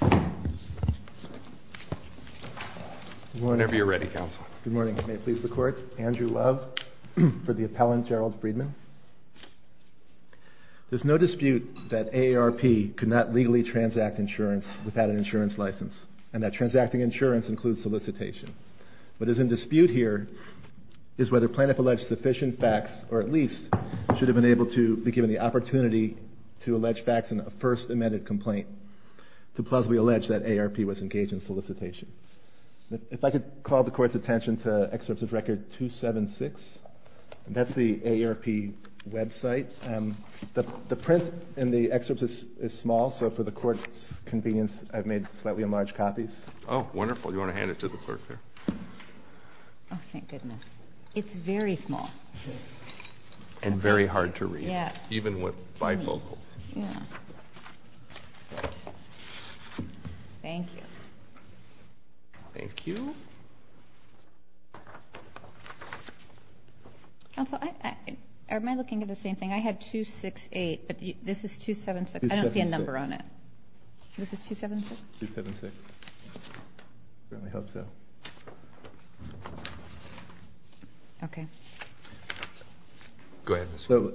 Good morning. Whenever you're ready, counsel. Good morning. May it please the court. Andrew Love for the appellant Gerald Friedman. There's no dispute that AARP could not legally transact insurance without an insurance license, and that transacting insurance includes solicitation. What is in dispute here is whether plaintiff alleged sufficient facts or at least should have been able to be given the opportunity to allege facts in a first amended complaint to plausibly allege that AARP was engaged in solicitation. If I could call the court's attention to Excerpt of Record 276. That's the AARP website. The print in the excerpt is small, so for the court's convenience, I've made slightly enlarged copies. Oh, wonderful. You want to hand it to the clerk there? Oh, thank goodness. It's very small. And very hard to read. Yeah. Even with bifocals. Thank you. Thank you. Counsel, am I looking at the same thing? I had 268, but this is 276. I don't see a number on it. This is 276? 276. I certainly hope so. Okay. Go ahead. So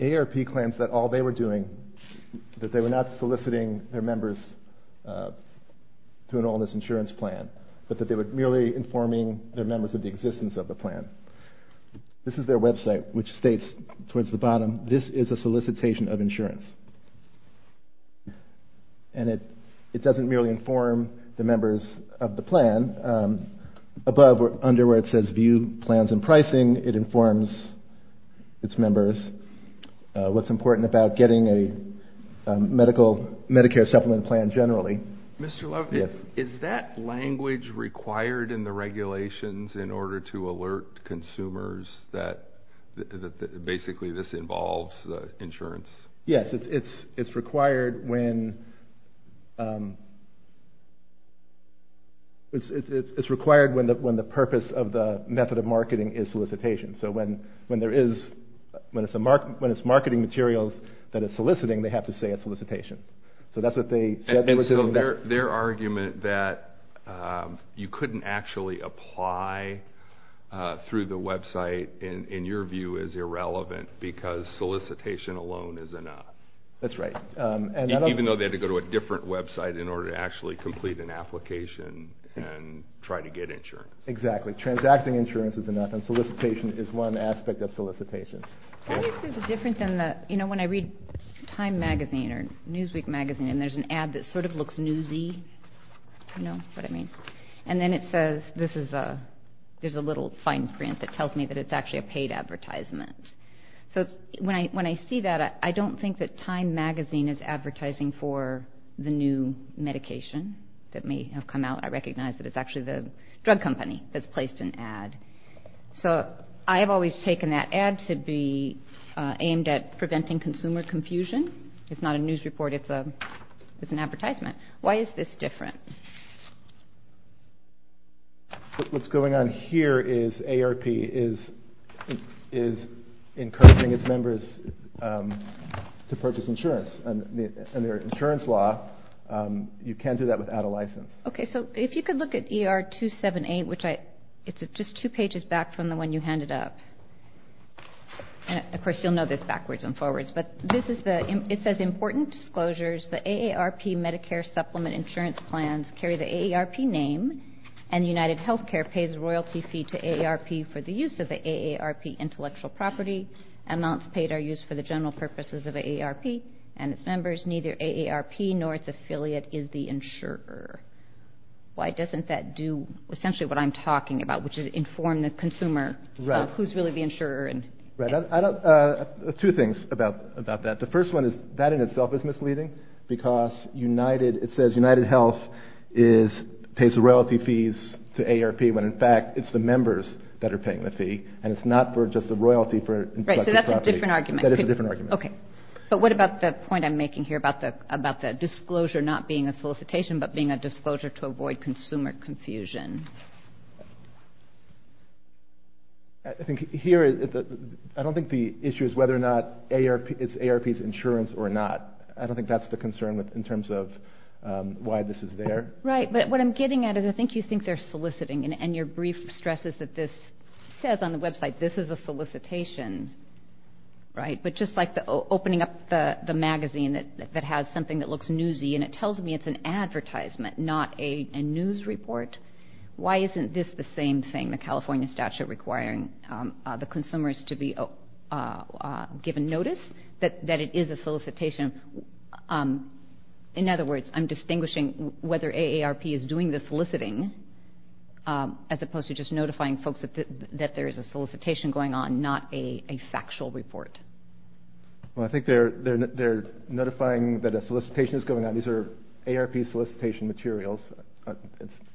AARP claims that all they were doing, that they were not soliciting their members to enroll in this insurance plan, but that they were merely informing their members of the existence of the plan. This is their website, which states towards the bottom, this is a solicitation of insurance. And it doesn't merely inform the members of the plan. Under where it says view plans and pricing, it informs its members what's important about getting a Medicare supplement plan generally. Mr. Love, is that language required in the regulations in order to alert consumers that basically this involves insurance? Yes. It's required when the purpose of the method of marketing is solicitation. So when it's marketing materials that it's soliciting, they have to say it's solicitation. And so their argument that you couldn't actually apply through the website, in your view, is irrelevant because solicitation alone is enough. That's right. Even though they had to go to a different website in order to actually complete an application and try to get insurance. Exactly. Transacting insurance is enough and solicitation is one aspect of solicitation. When I read Time magazine or Newsweek magazine and there's an ad that sort of looks newsy, you know what I mean? And then it says there's a little fine print that tells me that it's actually a paid advertisement. So when I see that, I don't think that Time magazine is advertising for the new medication that may have come out. I recognize that it's actually the drug company that's placed an ad. So I have always taken that ad to be aimed at preventing consumer confusion. It's not a news report. It's an advertisement. Why is this different? What's going on here is AARP is encouraging its members to purchase insurance. Under insurance law, you can't do that without a license. Okay. So if you could look at ER 278, which it's just two pages back from the one you handed up. And, of course, you'll know this backwards and forwards. But it says important disclosures. The AARP Medicare Supplement Insurance Plans carry the AARP name and UnitedHealthcare pays royalty fee to AARP for the use of the AARP intellectual property. Amounts paid are used for the general purposes of AARP and its members. Neither AARP nor its affiliate is the insurer. Why doesn't that do essentially what I'm talking about, which is inform the consumer who's really the insurer? Right. Two things about that. The first one is that in itself is misleading because it says UnitedHealth pays royalty fees to AARP when, in fact, it's the members that are paying the fee and it's not for just the royalty for intellectual property. Right. So that's a different argument. That is a different argument. Okay. But what about the point I'm making here about the disclosure not being a solicitation but being a disclosure to avoid consumer confusion? I don't think the issue is whether or not it's AARP's insurance or not. I don't think that's the concern in terms of why this is there. Right. But what I'm getting at is I think you think they're soliciting and your brief stresses that this says on the website this is a solicitation. Right. But just like opening up the magazine that has something that looks newsy and it tells me it's an advertisement, not a news report, why isn't this the same thing, the California statute requiring the consumers to be given notice that it is a solicitation? In other words, I'm distinguishing whether AARP is doing the soliciting as opposed to just notifying folks that there is a solicitation going on, not a factual report. Well, I think they're notifying that a solicitation is going on. These are AARP solicitation materials.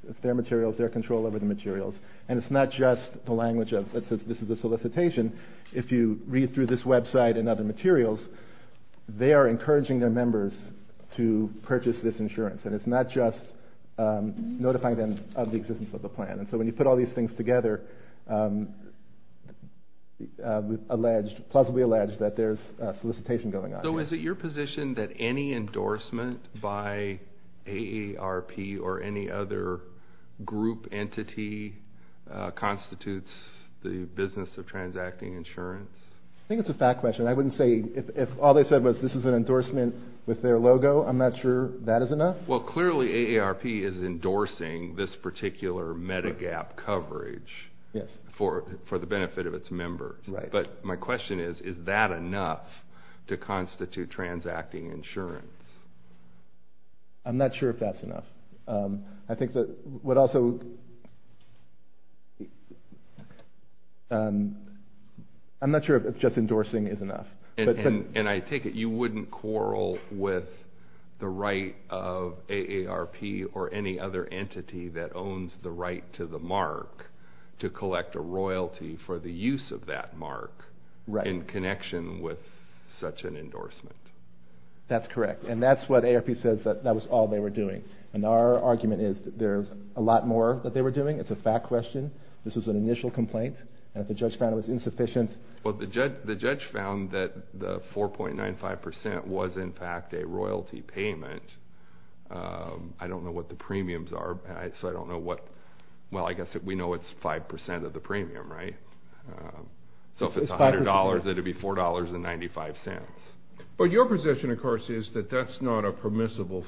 It's their materials, their control over the materials. And it's not just the language that says this is a solicitation. If you read through this website and other materials, they are encouraging their members to purchase this insurance. And it's not just notifying them of the existence of the plan. And so when you put all these things together, we've alleged, plausibly alleged, that there's solicitation going on. So is it your position that any endorsement by AARP or any other group entity constitutes the business of transacting insurance? I think it's a fact question. I wouldn't say if all they said was this is an endorsement with their logo, I'm not sure that is enough. Well, clearly AARP is endorsing this particular Medigap coverage for the benefit of its members. But my question is, is that enough to constitute transacting insurance? I'm not sure if that's enough. I think that what also... I'm not sure if just endorsing is enough. And I take it you wouldn't quarrel with the right of AARP or any other entity that owns the right to the mark to collect a royalty for the use of that mark in connection with such an endorsement? That's correct. And that's what AARP says that that was all they were doing. And our argument is that there's a lot more that they were doing. It's a fact question. This was an initial complaint. And if the judge found it was insufficient... Well, the judge found that the 4.95% was in fact a royalty payment. I don't know what the premiums are, so I don't know what... well, I guess we know it's 5% of the premium, right? So if it's $100, it would be $4.95. But your position, of course, is that that's not a permissible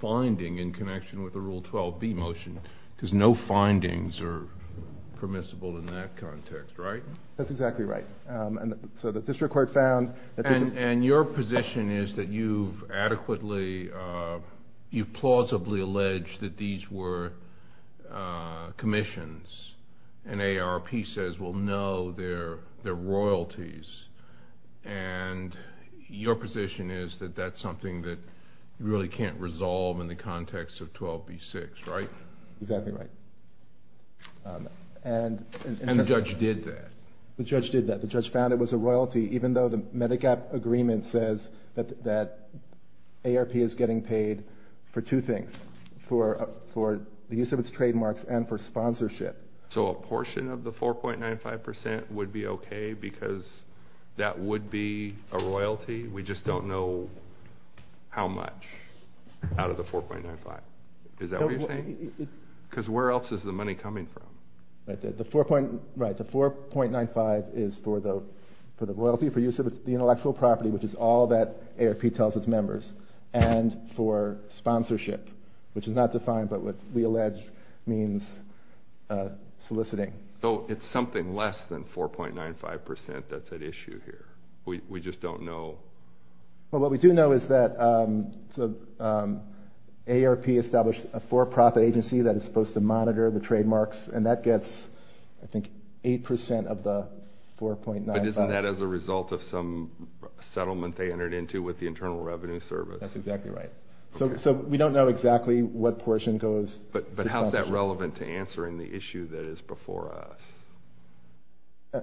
finding in connection with the Rule 12b motion, because no findings are permissible in that context, right? That's exactly right. So the district court found... And your position is that you've adequately... you've plausibly alleged that these were commissions, and AARP says, well, no, they're royalties. And your position is that that's something that you really can't resolve in the context of 12b-6, right? Exactly right. And the judge did that. The judge did that. The judge found it was a royalty, even though the Medigap Agreement says that AARP is getting paid for two things. For the use of its trademarks and for sponsorship. So a portion of the 4.95% would be okay, because that would be a royalty? We just don't know how much out of the 4.95. Is that what you're saying? Because where else is the money coming from? Right. The 4.95 is for the royalty, for use of the intellectual property, which is all that AARP tells its members, and for sponsorship, which is not defined by what we allege means soliciting. So it's something less than 4.95% that's at issue here. We just don't know. Well, what we do know is that AARP established a for-profit agency that is supposed to monitor the trademarks, and that gets, I think, 8% of the 4.95. But isn't that as a result of some settlement they entered into with the Internal Revenue Service? That's exactly right. So we don't know exactly what portion goes to sponsorship. But how is that relevant to answering the issue that is before us?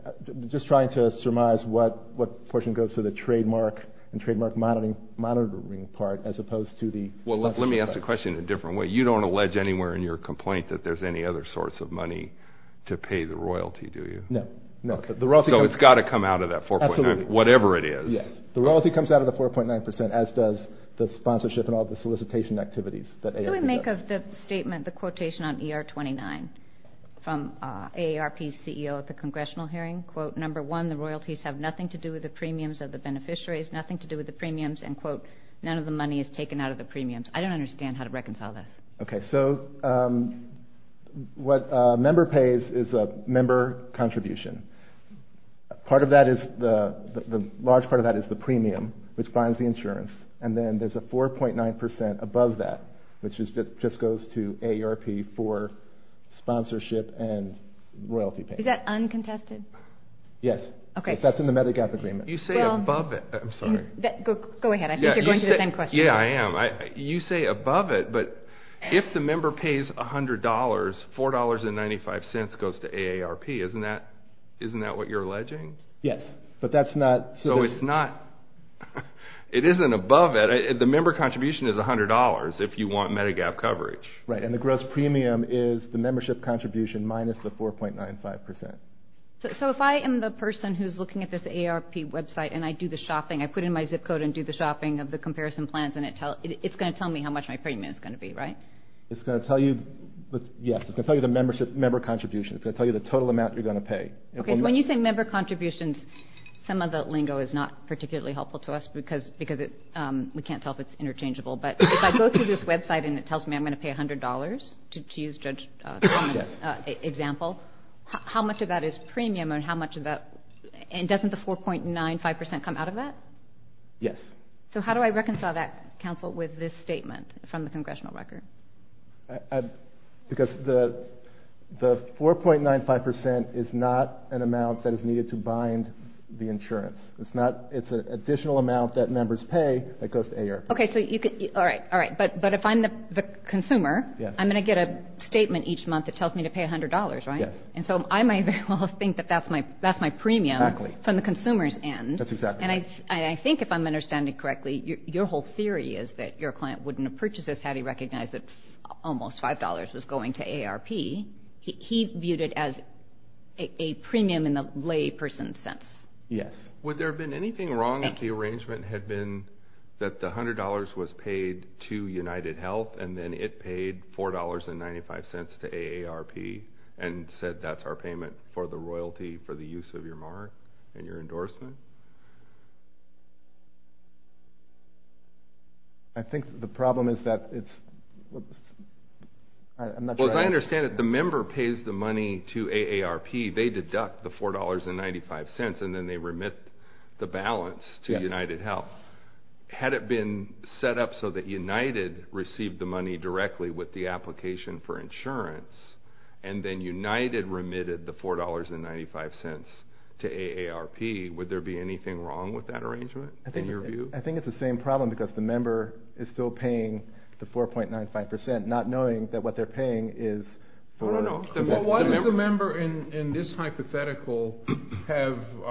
Just trying to surmise what portion goes to the trademark and trademark monitoring part, as opposed to the sponsorship. Well, let me ask the question in a different way. You don't allege anywhere in your complaint that there's any other source of money to pay the royalty, do you? No. So it's got to come out of that 4.95%, whatever it is. Yes. The royalty comes out of the 4.95%, as does the sponsorship and all the solicitation activities that AARP does. What do we make of the statement, the quotation on ER 29 from AARP's CEO at the Congressional hearing? Quote, number one, the royalties have nothing to do with the premiums of the beneficiaries, nothing to do with the premiums, and quote, none of the money is taken out of the premiums. I don't understand how to reconcile that. Okay. So what a member pays is a member contribution. The large part of that is the premium, which binds the insurance, and then there's a 4.9% above that, which just goes to AARP for sponsorship and royalty payments. Is that uncontested? Yes. Okay. That's in the Medigap Agreement. You say above it. I'm sorry. Go ahead. I think you're going to the same question. Yeah, I am. You say above it, but if the member pays $100, $4.95 goes to AARP. Isn't that what you're alleging? Yes, but that's not. So it's not. It isn't above it. The member contribution is $100 if you want Medigap coverage. Right, and the gross premium is the membership contribution minus the 4.95%. So if I am the person who's looking at this AARP website and I do the shopping, I put in my zip code and do the shopping of the comparison plans, and it's going to tell me how much my premium is going to be, right? It's going to tell you the member contribution. It's going to tell you the total amount you're going to pay. Okay, so when you say member contributions, some of the lingo is not particularly helpful to us because we can't tell if it's interchangeable. But if I go through this website and it tells me I'm going to pay $100, to use Judge Solomon's example, how much of that is premium and how much of that – and doesn't the 4.95% come out of that? Yes. So how do I reconcile that, counsel, with this statement from the congressional record? Because the 4.95% is not an amount that is needed to bind the insurance. It's an additional amount that members pay that goes to AARP. Okay, but if I'm the consumer, I'm going to get a statement each month that tells me to pay $100, right? Yes. And so I may very well think that that's my premium from the consumer's end. That's exactly right. And I think if I'm understanding correctly, your whole theory is that your client wouldn't have purchased this had he recognized that almost $5 was going to AARP. He viewed it as a premium in the layperson's sense. Yes. Would there have been anything wrong if the arrangement had been that the $100 was paid to UnitedHealth and then it paid $4.95 to AARP and said that's our payment for the royalty for the use of your mark and your endorsement? I think the problem is that it's – I'm not sure I understand. Well, as I understand it, the member pays the money to AARP. They deduct the $4.95 and then they remit the balance to UnitedHealth. Yes. Had it been set up so that United received the money directly with the application for insurance and then United remitted the $4.95 to AARP, would there be anything wrong with that arrangement in your view? I think it's the same problem because the member is still paying the 4.95% not knowing that what they're paying is – Why does the member in this hypothetical have –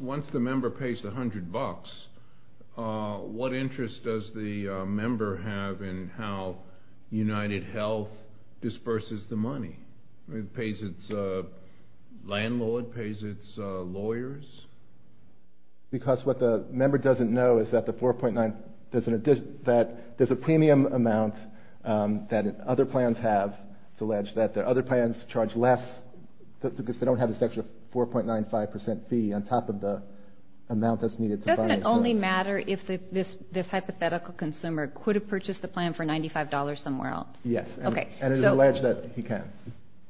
once the member pays the $100, what interest does the member have in how UnitedHealth disperses the money? Pays its landlord? Pays its lawyers? Because what the member doesn't know is that the 4.95 – that there's a premium amount that other plans have. It's alleged that the other plans charge less because they don't have this extra 4.95% fee on top of the amount that's needed to buy insurance. Doesn't it only matter if this hypothetical consumer could have purchased the plan for $95 somewhere else? Yes. Okay. And it's alleged that he can.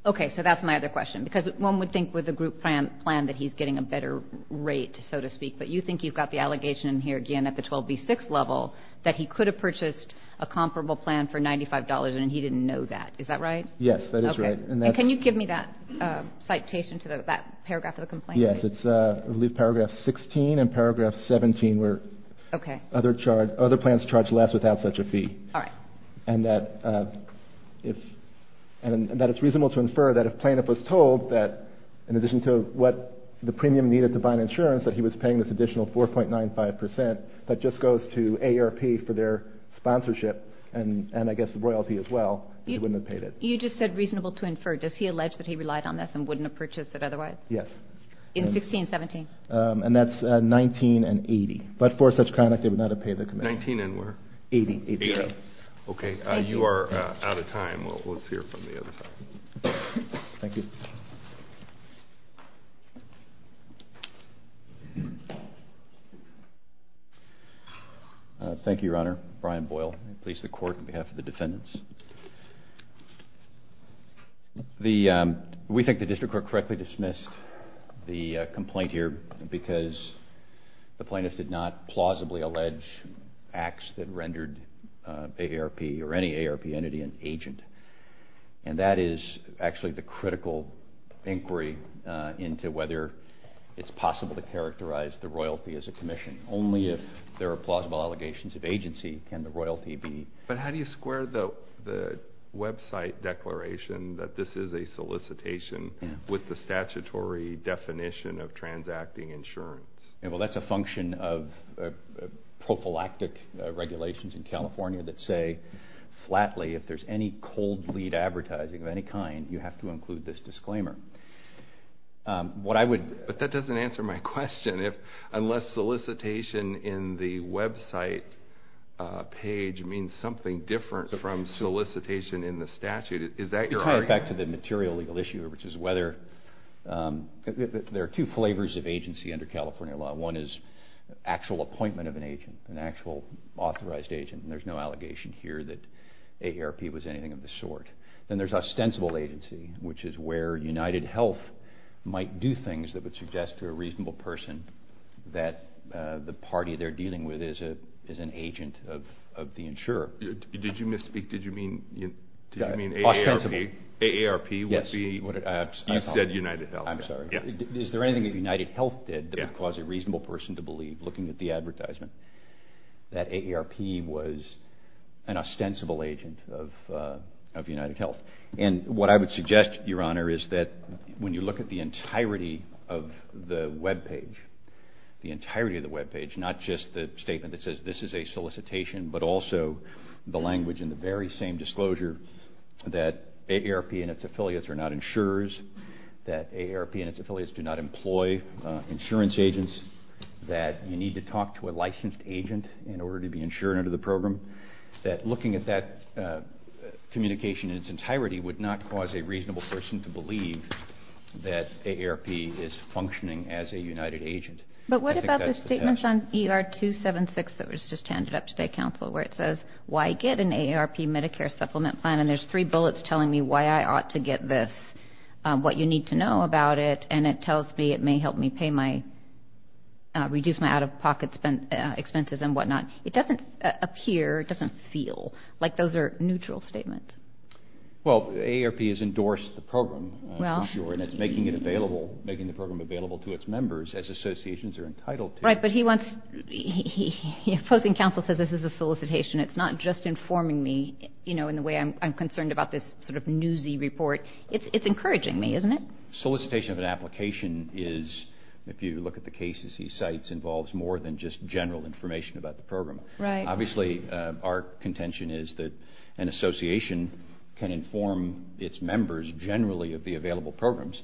Okay. So that's my other question because one would think with a group plan that he's getting a better rate, so to speak, but you think you've got the allegation here again at the 12B6 level that he could have purchased a comparable plan for $95 and he didn't know that. Is that right? Yes, that is right. Okay. And can you give me that citation to that paragraph of the complaint? Yes. It's, I believe, paragraph 16 and paragraph 17 where other plans charge less without such a fee. All right. And that it's reasonable to infer that if a plaintiff was told that in addition to what the premium needed to buy insurance, that he was paying this additional 4.95% that just goes to AARP for their sponsorship and, I guess, royalty as well, he wouldn't have paid it. You just said reasonable to infer. Does he allege that he relied on this and wouldn't have purchased it otherwise? Yes. In 16, 17? And that's 19 and 80. But for such conduct, they would not have paid the commission. 19 and where? 80. 80. Okay. You are out of time. Let's hear from the other side. Thank you. Thank you, Your Honor. Brian Boyle. I please the Court on behalf of the defendants. We think the district court correctly dismissed the complaint here because the plaintiff did not plausibly allege acts that rendered AARP or any AARP entity an agent. And that is actually the critical inquiry into whether it's possible to characterize the royalty as a commission. Only if there are plausible allegations of agency can the royalty be. But how do you square the website declaration that this is a solicitation with the statutory definition of transacting insurance? Well, that's a function of prophylactic regulations in California that say, flatly, if there's any cold lead advertising of any kind, you have to include this disclaimer. But that doesn't answer my question. Unless solicitation in the website page means something different from solicitation in the statute, is that your argument? Well, it goes back to the material legal issue, which is whether there are two flavors of agency under California law. One is actual appointment of an agent, an actual authorized agent. And there's no allegation here that AARP was anything of the sort. Then there's ostensible agency, which is where UnitedHealth might do things that would suggest to a reasonable person that the party they're dealing with is an agent of the insurer. Did you misspeak? Did you mean AARP? Yes. You said UnitedHealth. I'm sorry. Is there anything that UnitedHealth did that would cause a reasonable person to believe, looking at the advertisement, that AARP was an ostensible agent of UnitedHealth? And what I would suggest, Your Honor, is that when you look at the entirety of the webpage, the entirety of the webpage, not just the statement that says this is a solicitation, but also the language in the very same disclosure that AARP and its affiliates are not insurers, that AARP and its affiliates do not employ insurance agents, that you need to talk to a licensed agent in order to be insured under the program, that looking at that communication in its entirety would not cause a reasonable person to believe that AARP is functioning as a United agent. But what about the statements on ER 276 that was just handed up today, Counsel, where it says, why get an AARP Medicare supplement plan, and there's three bullets telling me why I ought to get this, what you need to know about it, and it tells me it may help me pay my, reduce my out-of-pocket expenses and whatnot. It doesn't appear, it doesn't feel like those are neutral statements. Well, AARP has endorsed the program, for sure, and it's making it available, making the program available to its members as associations are entitled to. Right, but he wants, the opposing counsel says this is a solicitation. It's not just informing me, you know, in the way I'm concerned about this sort of newsy report. It's encouraging me, isn't it? Solicitation of an application is, if you look at the cases he cites, involves more than just general information about the program. Right. Obviously, our contention is that an association can inform its members generally of the available programs.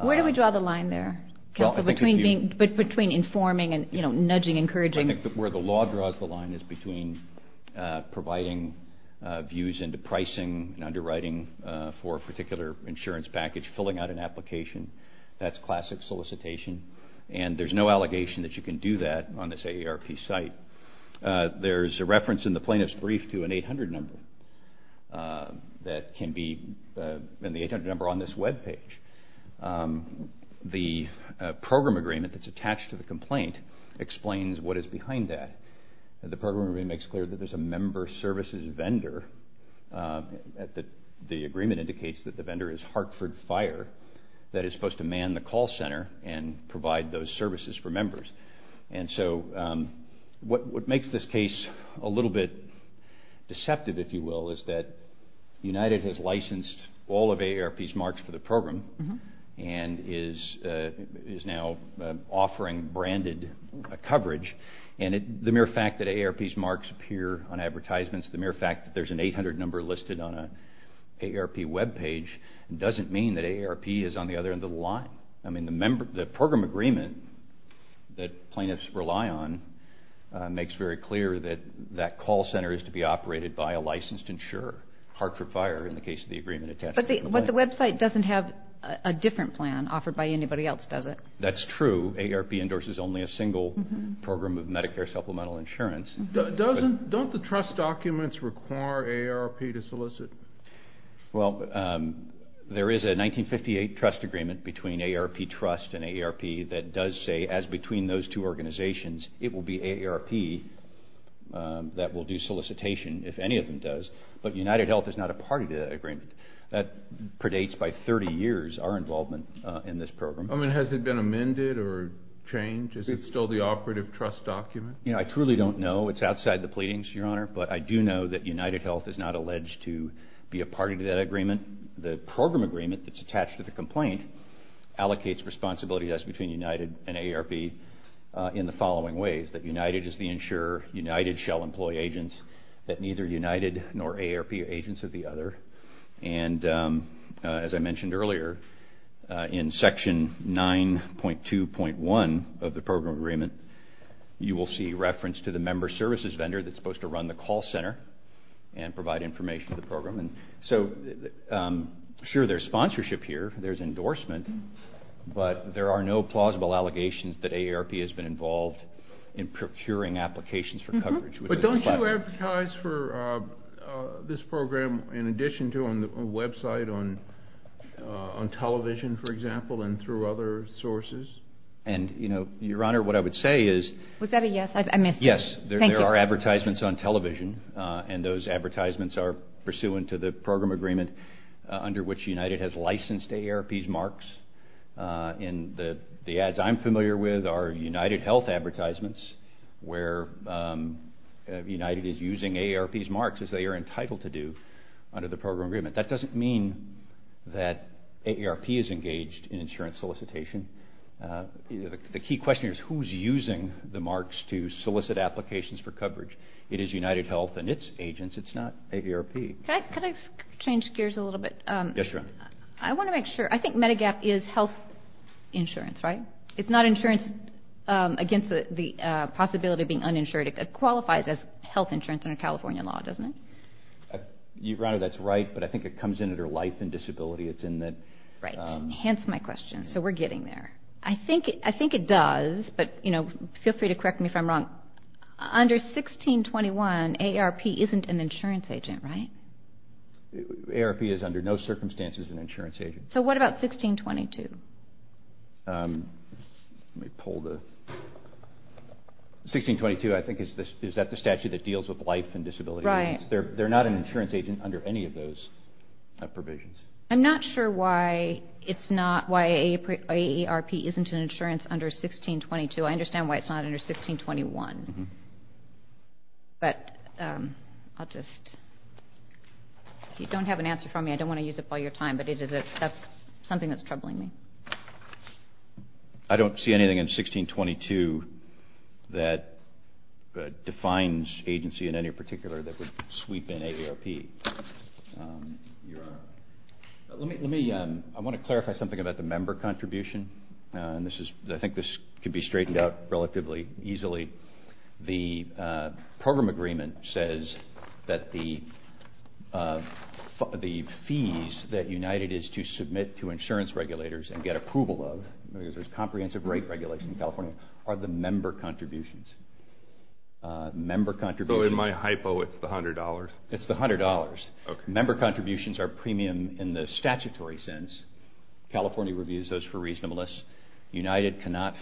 Where do we draw the line there, Counsel, between informing and, you know, nudging, encouraging? I think where the law draws the line is between providing views into pricing and underwriting for a particular insurance package, filling out an application. That's classic solicitation, and there's no allegation that you can do that on this AARP site. There's a reference in the plaintiff's brief to an 800 number that can be, and the 800 number on this webpage. The program agreement that's attached to the complaint explains what is behind that. The program agreement makes clear that there's a member services vendor, that the agreement indicates that the vendor is Hartford Fire, that is supposed to man the call center and provide those services for members. And so what makes this case a little bit deceptive, if you will, is that United has licensed all of AARP's marks for the program and is now offering branded coverage, and the mere fact that AARP's marks appear on advertisements, the mere fact that there's an 800 number listed on an AARP webpage doesn't mean that AARP is on the other end of the line. I mean, the program agreement that plaintiffs rely on makes very clear that that call center is to be operated by a licensed insurer, Hartford Fire, in the case of the agreement attached to the complaint. But the website doesn't have a different plan offered by anybody else, does it? That's true. AARP endorses only a single program of Medicare supplemental insurance. Don't the trust documents require AARP to solicit? Well, there is a 1958 trust agreement between AARP Trust and AARP that does say, as between those two organizations, it will be AARP that will do solicitation, if any of them does. But UnitedHealth is not a party to that agreement. That predates by 30 years our involvement in this program. I mean, has it been amended or changed? Is it still the operative trust document? I truly don't know. It's outside the pleadings, Your Honor. But I do know that UnitedHealth is not alleged to be a party to that agreement. The program agreement that's attached to the complaint allocates responsibility to us between United and AARP in the following ways, that United is the insurer, United shall employ agents, that neither United nor AARP are agents of the other. And as I mentioned earlier, in Section 9.2.1 of the program agreement, you will see reference to the member services vendor that's supposed to run the call center and provide information to the program. So, sure, there's sponsorship here, there's endorsement, but there are no plausible allegations that AARP has been involved in procuring applications for coverage. But don't you advertise for this program in addition to on the website, on television, for example, and through other sources? And, you know, Your Honor, what I would say is... Was that a yes? I missed it. Yes. Thank you. There are advertisements on television, and those advertisements are pursuant to the program agreement under which United has licensed AARP's marks. And the ads I'm familiar with are UnitedHealth advertisements, where United is using AARP's marks as they are entitled to do under the program agreement. That doesn't mean that AARP is engaged in insurance solicitation. The key question is who's using the marks to solicit applications for coverage. It is UnitedHealth and its agents. It's not AARP. Can I change gears a little bit? Yes, Your Honor. I want to make sure. I think Medigap is health insurance, right? It's not insurance against the possibility of being uninsured. It qualifies as health insurance under California law, doesn't it? Your Honor, that's right, but I think it comes in under life and disability. Right. Hence my question. So we're getting there. I think it does, but feel free to correct me if I'm wrong. Under 1621, AARP isn't an insurance agent, right? AARP is under no circumstances an insurance agent. So what about 1622? 1622, I think, is that the statute that deals with life and disability? Right. They're not an insurance agent under any of those provisions. I'm not sure why AARP isn't an insurance under 1622. I understand why it's not under 1621. But I'll just – if you don't have an answer for me, I don't want to use up all your time, but that's something that's troubling me. I don't see anything in 1622 that defines agency in any particular that would sweep in AARP. Your Honor. Let me – I want to clarify something about the member contribution. I think this could be straightened out relatively easily. The program agreement says that the fees that United is to submit to insurance regulators and get approval of, because there's comprehensive rate regulation in California, are the member contributions. So in my hypo, it's the $100? It's the $100. Okay. Member contributions are premium in the statutory sense. California reviews those for reasonableness. United cannot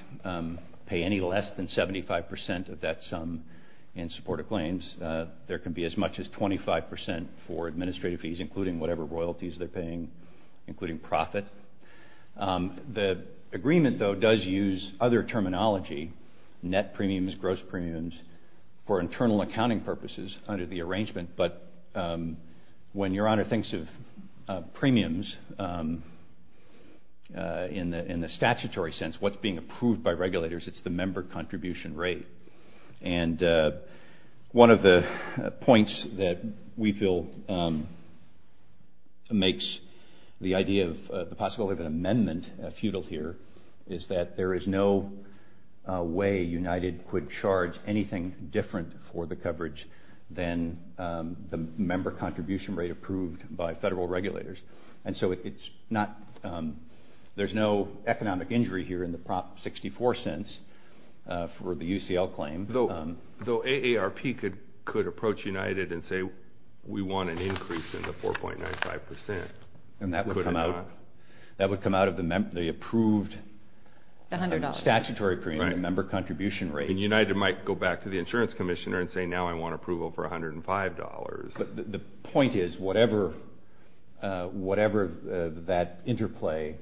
pay any less than 75% of that sum in support of claims. There can be as much as 25% for administrative fees, including whatever royalties they're paying, including profit. The agreement, though, does use other terminology, net premiums, gross premiums, for internal accounting purposes under the arrangement. But when Your Honor thinks of premiums in the statutory sense, what's being approved by regulators, it's the member contribution rate. And one of the points that we feel makes the idea of the possibility of an amendment futile here is that there is no way United could charge anything different for the coverage than the member contribution rate approved by federal regulators. And so there's no economic injury here in the Prop 64 sense for the UCL claim. Though AARP could approach United and say, we want an increase in the 4.95%. And that would come out of the approved statutory premium, the member contribution rate. And United might go back to the insurance commissioner and say, now I want approval for $105. But the point is, whatever that interplay,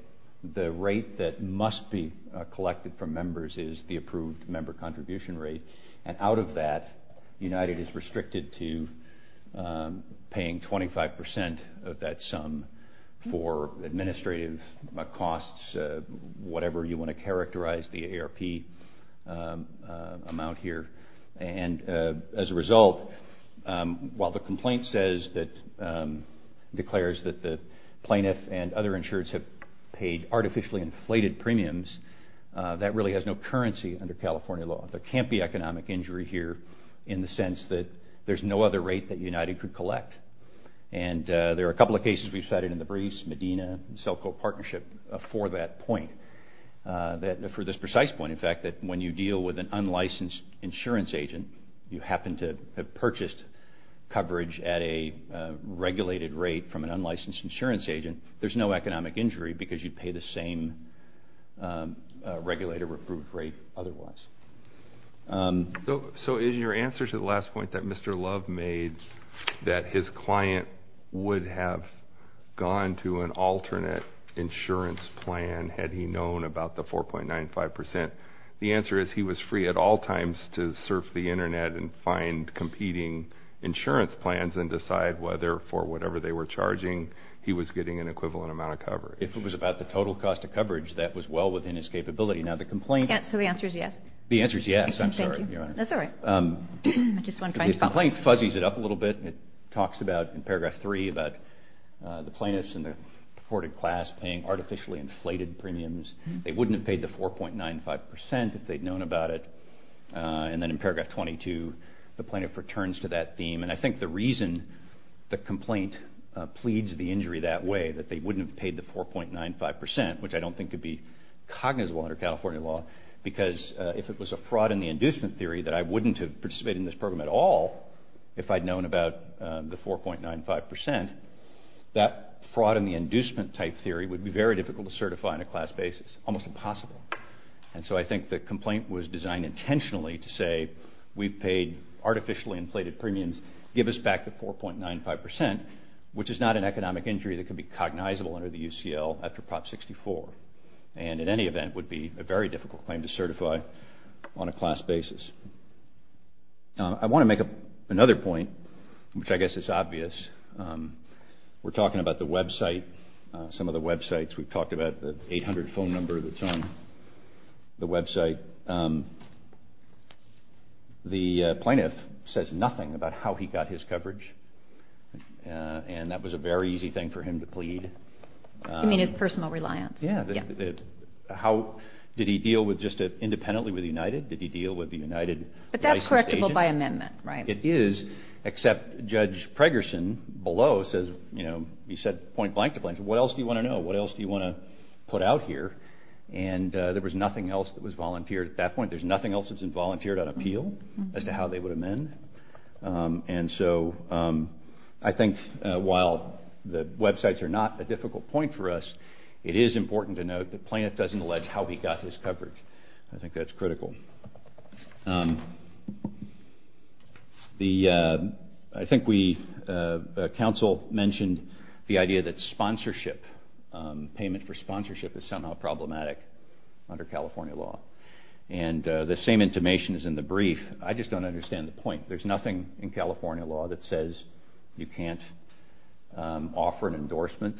the rate that must be collected from members is the approved member contribution rate. And out of that, United is restricted to paying 25% of that sum for administrative costs, whatever you want to characterize the AARP amount here. And as a result, while the complaint declares that the plaintiff and other insurers have paid artificially inflated premiums, that really has no currency under California law. There can't be economic injury here in the sense that there's no other rate that United could collect. And there are a couple of cases we've cited in the briefs, Medina and Selco Partnership, for that point. For this precise point, in fact, that when you deal with an unlicensed insurance agent, you happen to have purchased coverage at a regulated rate from an unlicensed insurance agent, there's no economic injury because you'd pay the same regulator-approved rate otherwise. So is your answer to the last point that Mr. Love made, that his client would have gone to an alternate insurance plan had he known about the 4.95%? The answer is he was free at all times to surf the Internet and find competing insurance plans and decide whether, for whatever they were charging, he was getting an equivalent amount of cover. If it was about the total cost of coverage, that was well within his capability. So the answer is yes? The answer is yes, I'm sorry, Your Honor. That's all right. The complaint fuzzies it up a little bit. It talks about, in paragraph 3, about the plaintiffs and the afforded class paying artificially inflated premiums. They wouldn't have paid the 4.95% if they'd known about it. And then in paragraph 22, the plaintiff returns to that theme. And I think the reason the complaint pleads the injury that way, that they wouldn't have paid the 4.95%, which I don't think could be cognizable under California law, because if it was a fraud-in-the-inducement theory that I wouldn't have participated in this program at all if I'd known about the 4.95%, that fraud-in-the-inducement-type theory would be very difficult to certify on a class basis, almost impossible. And so I think the complaint was designed intentionally to say, we've paid artificially inflated premiums, give us back the 4.95%, which is not an economic injury that could be cognizable under the UCL after Prop 64, and in any event would be a very difficult claim to certify on a class basis. I want to make another point, which I guess is obvious. We're talking about the website, some of the websites. We've talked about the 800 phone number that's on the website. The plaintiff says nothing about how he got his coverage, and that was a very easy thing for him to plead. You mean his personal reliance? Yeah. Did he deal just independently with United? Did he deal with the United license agent? But that's correctable by amendment, right? It is, except Judge Pregerson below says, you know, he said point blank to blank, what else do you want to know, what else do you want to put out here? And there was nothing else that was volunteered at that point. There's nothing else that's been volunteered on appeal as to how they would amend. And so I think while the websites are not a difficult point for us, it is important to note the plaintiff doesn't allege how he got his coverage. I think that's critical. I think the counsel mentioned the idea that sponsorship, payment for sponsorship, is somehow problematic under California law, and the same intimation is in the brief. I just don't understand the point. There's nothing in California law that says you can't offer an endorsement,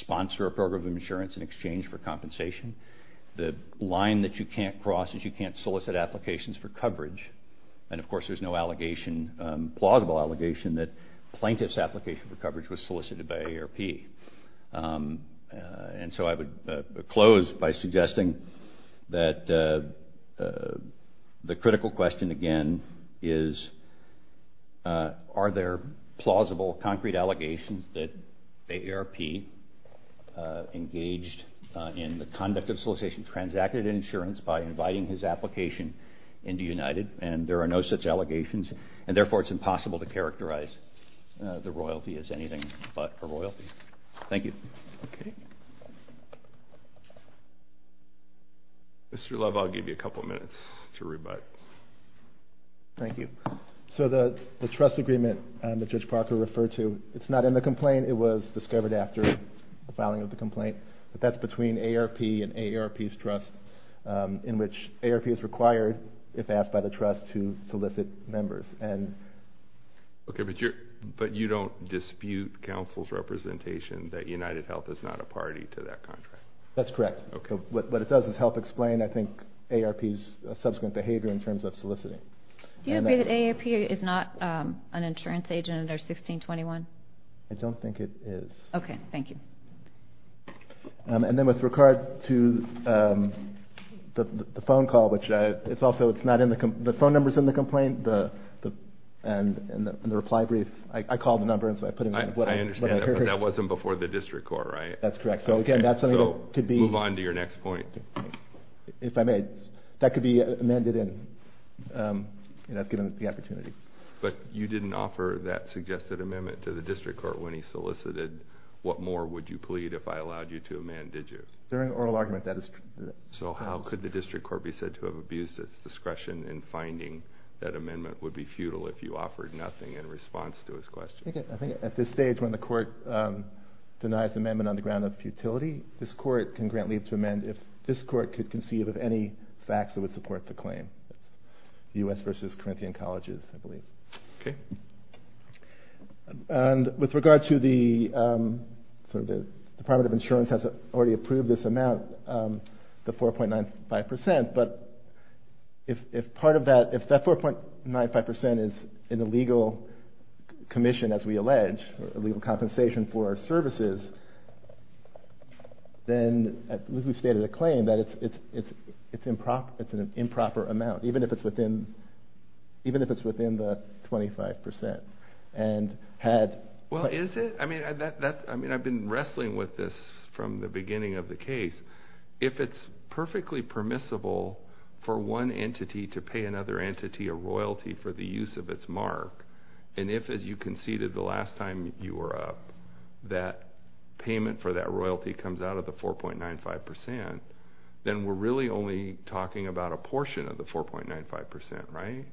sponsor a program of insurance in exchange for compensation. The line that you can't cross is you can't solicit applications for coverage. And, of course, there's no allegation, plausible allegation, that plaintiff's application for coverage was solicited by AARP. And so I would close by suggesting that the critical question, again, is are there plausible, concrete allegations that AARP engaged in the conduct of solicitation, transacted an insurance by inviting his application into United, and there are no such allegations, and therefore it's impossible to characterize the royalty as anything but a royalty. Thank you. Mr. Love, I'll give you a couple of minutes to rebut. Thank you. So the trust agreement that Judge Parker referred to, it's not in the complaint. It was discovered after the filing of the complaint, but that's between AARP and AARP's trust in which AARP is required, if asked by the trust, to solicit members. Okay, but you don't dispute counsel's representation that UnitedHealth is not a party to that contract? That's correct. What it does is help explain, I think, AARP's subsequent behavior in terms of soliciting. Do you agree that AARP is not an insurance agent under 1621? I don't think it is. Okay, thank you. And then with regard to the phone call, which it's also not in the complaint, the phone number's in the complaint and the reply brief. I called the number, and so I put in what I heard. I understand that, but that wasn't before the district court, right? That's correct. So again, that's something that could be... So move on to your next point. If I may, that could be amended in, given the opportunity. But you didn't offer that suggested amendment to the district court when he solicited. What more would you plead if I allowed you to amend, did you? They're an oral argument. So how could the district court be said to have abused its discretion in finding that amendment would be futile if you offered nothing in response to his question? I think at this stage when the court denies the amendment on the ground of futility, this court can grant leave to amend if this court could conceive of any facts that would support the claim. U.S. versus Corinthian Colleges, I believe. Okay. And with regard to the Department of Insurance has already approved this amount, the 4.95%, but if that 4.95% is an illegal commission, as we allege, or illegal compensation for our services, then we've stated a claim that it's an improper amount, even if it's within the 25%. And had... Well, is it? I mean, I've been wrestling with this from the beginning of the case. If it's perfectly permissible for one entity to pay another entity a royalty for the use of its mark, and if, as you conceded the last time you were up, that payment for that royalty comes out of the 4.95%, then we're really only talking about a portion of the 4.95%, right?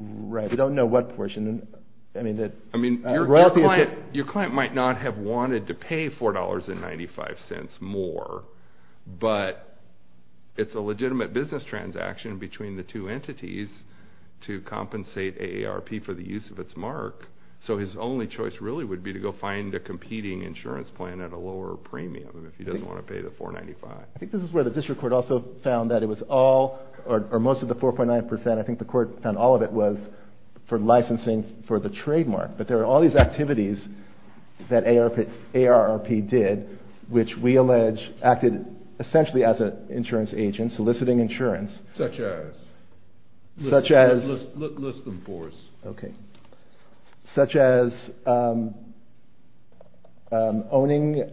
Right. We don't know what portion. I mean, your client might not have wanted to pay $4.95 more, but it's a legitimate business transaction between the two entities to compensate AARP for the use of its mark. So his only choice really would be to go find a competing insurance plan at a lower premium if he doesn't want to pay the 4.95%. I think this is where the district court also found that it was all, or most of the 4.9%, I think the court found all of it was for licensing for the trademark. But there are all these activities that AARP did, which we allege acted essentially as an insurance agent soliciting insurance. Such as? Such as? List them for us. Okay. Such as owning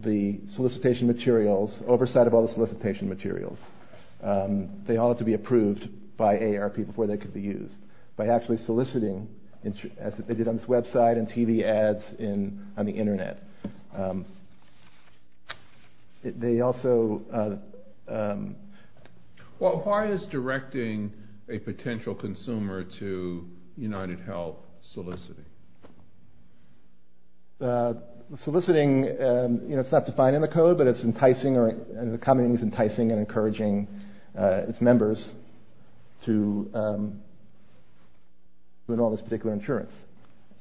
the solicitation materials, oversight of all the solicitation materials. They all had to be approved by AARP before they could be used. By actually soliciting, as they did on this website and TV ads on the internet. They also... Well, why is directing a potential consumer to UnitedHealth soliciting? Soliciting, you know, it's not defined in the code, but it's enticing, or the common thing is enticing and encouraging its members to enroll in this particular insurance.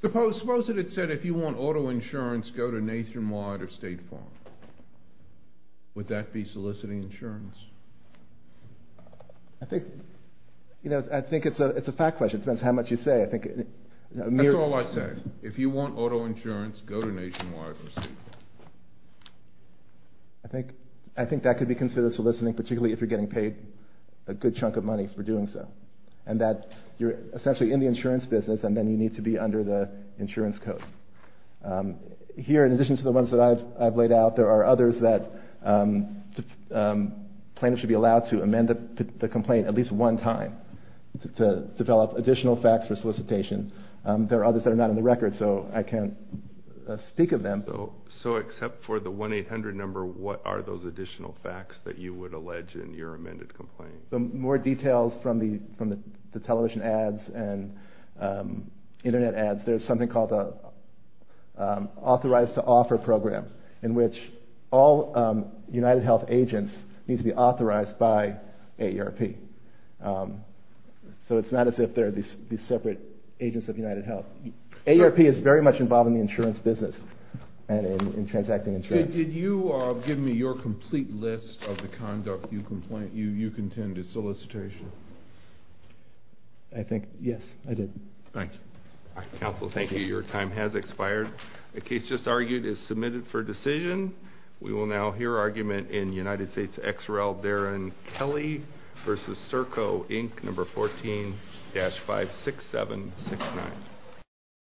Suppose that it said, if you want auto insurance, go to Nationwide or State Farm. Would that be soliciting insurance? I think, you know, I think it's a fact question. It depends how much you say. That's all I say. If you want auto insurance, go to Nationwide or State Farm. I think that could be considered soliciting, particularly if you're getting paid a good chunk of money for doing so. And that you're essentially in the insurance business, and then you need to be under the insurance code. Here, in addition to the ones that I've laid out, there are others that plaintiffs should be allowed to amend the complaint at least one time. To develop additional facts for solicitation. There are others that are not on the record, so I can't speak of them. So, except for the 1-800 number, what are those additional facts that you would allege in your amended complaint? More details from the television ads and internet ads. There's something called an authorized to offer program, in which all UnitedHealth agents need to be authorized by AERP. So it's not as if they're these separate agents of UnitedHealth. AERP is very much involved in the insurance business, and in transacting insurance. Did you give me your complete list of the conduct you contend is solicitation? I think, yes, I did. Thank you. Counsel, thank you. Your time has expired. The case just argued is submitted for decision. We will now hear argument in United States XREL Darren Kelly v. Serco, Inc., No. 14-56769.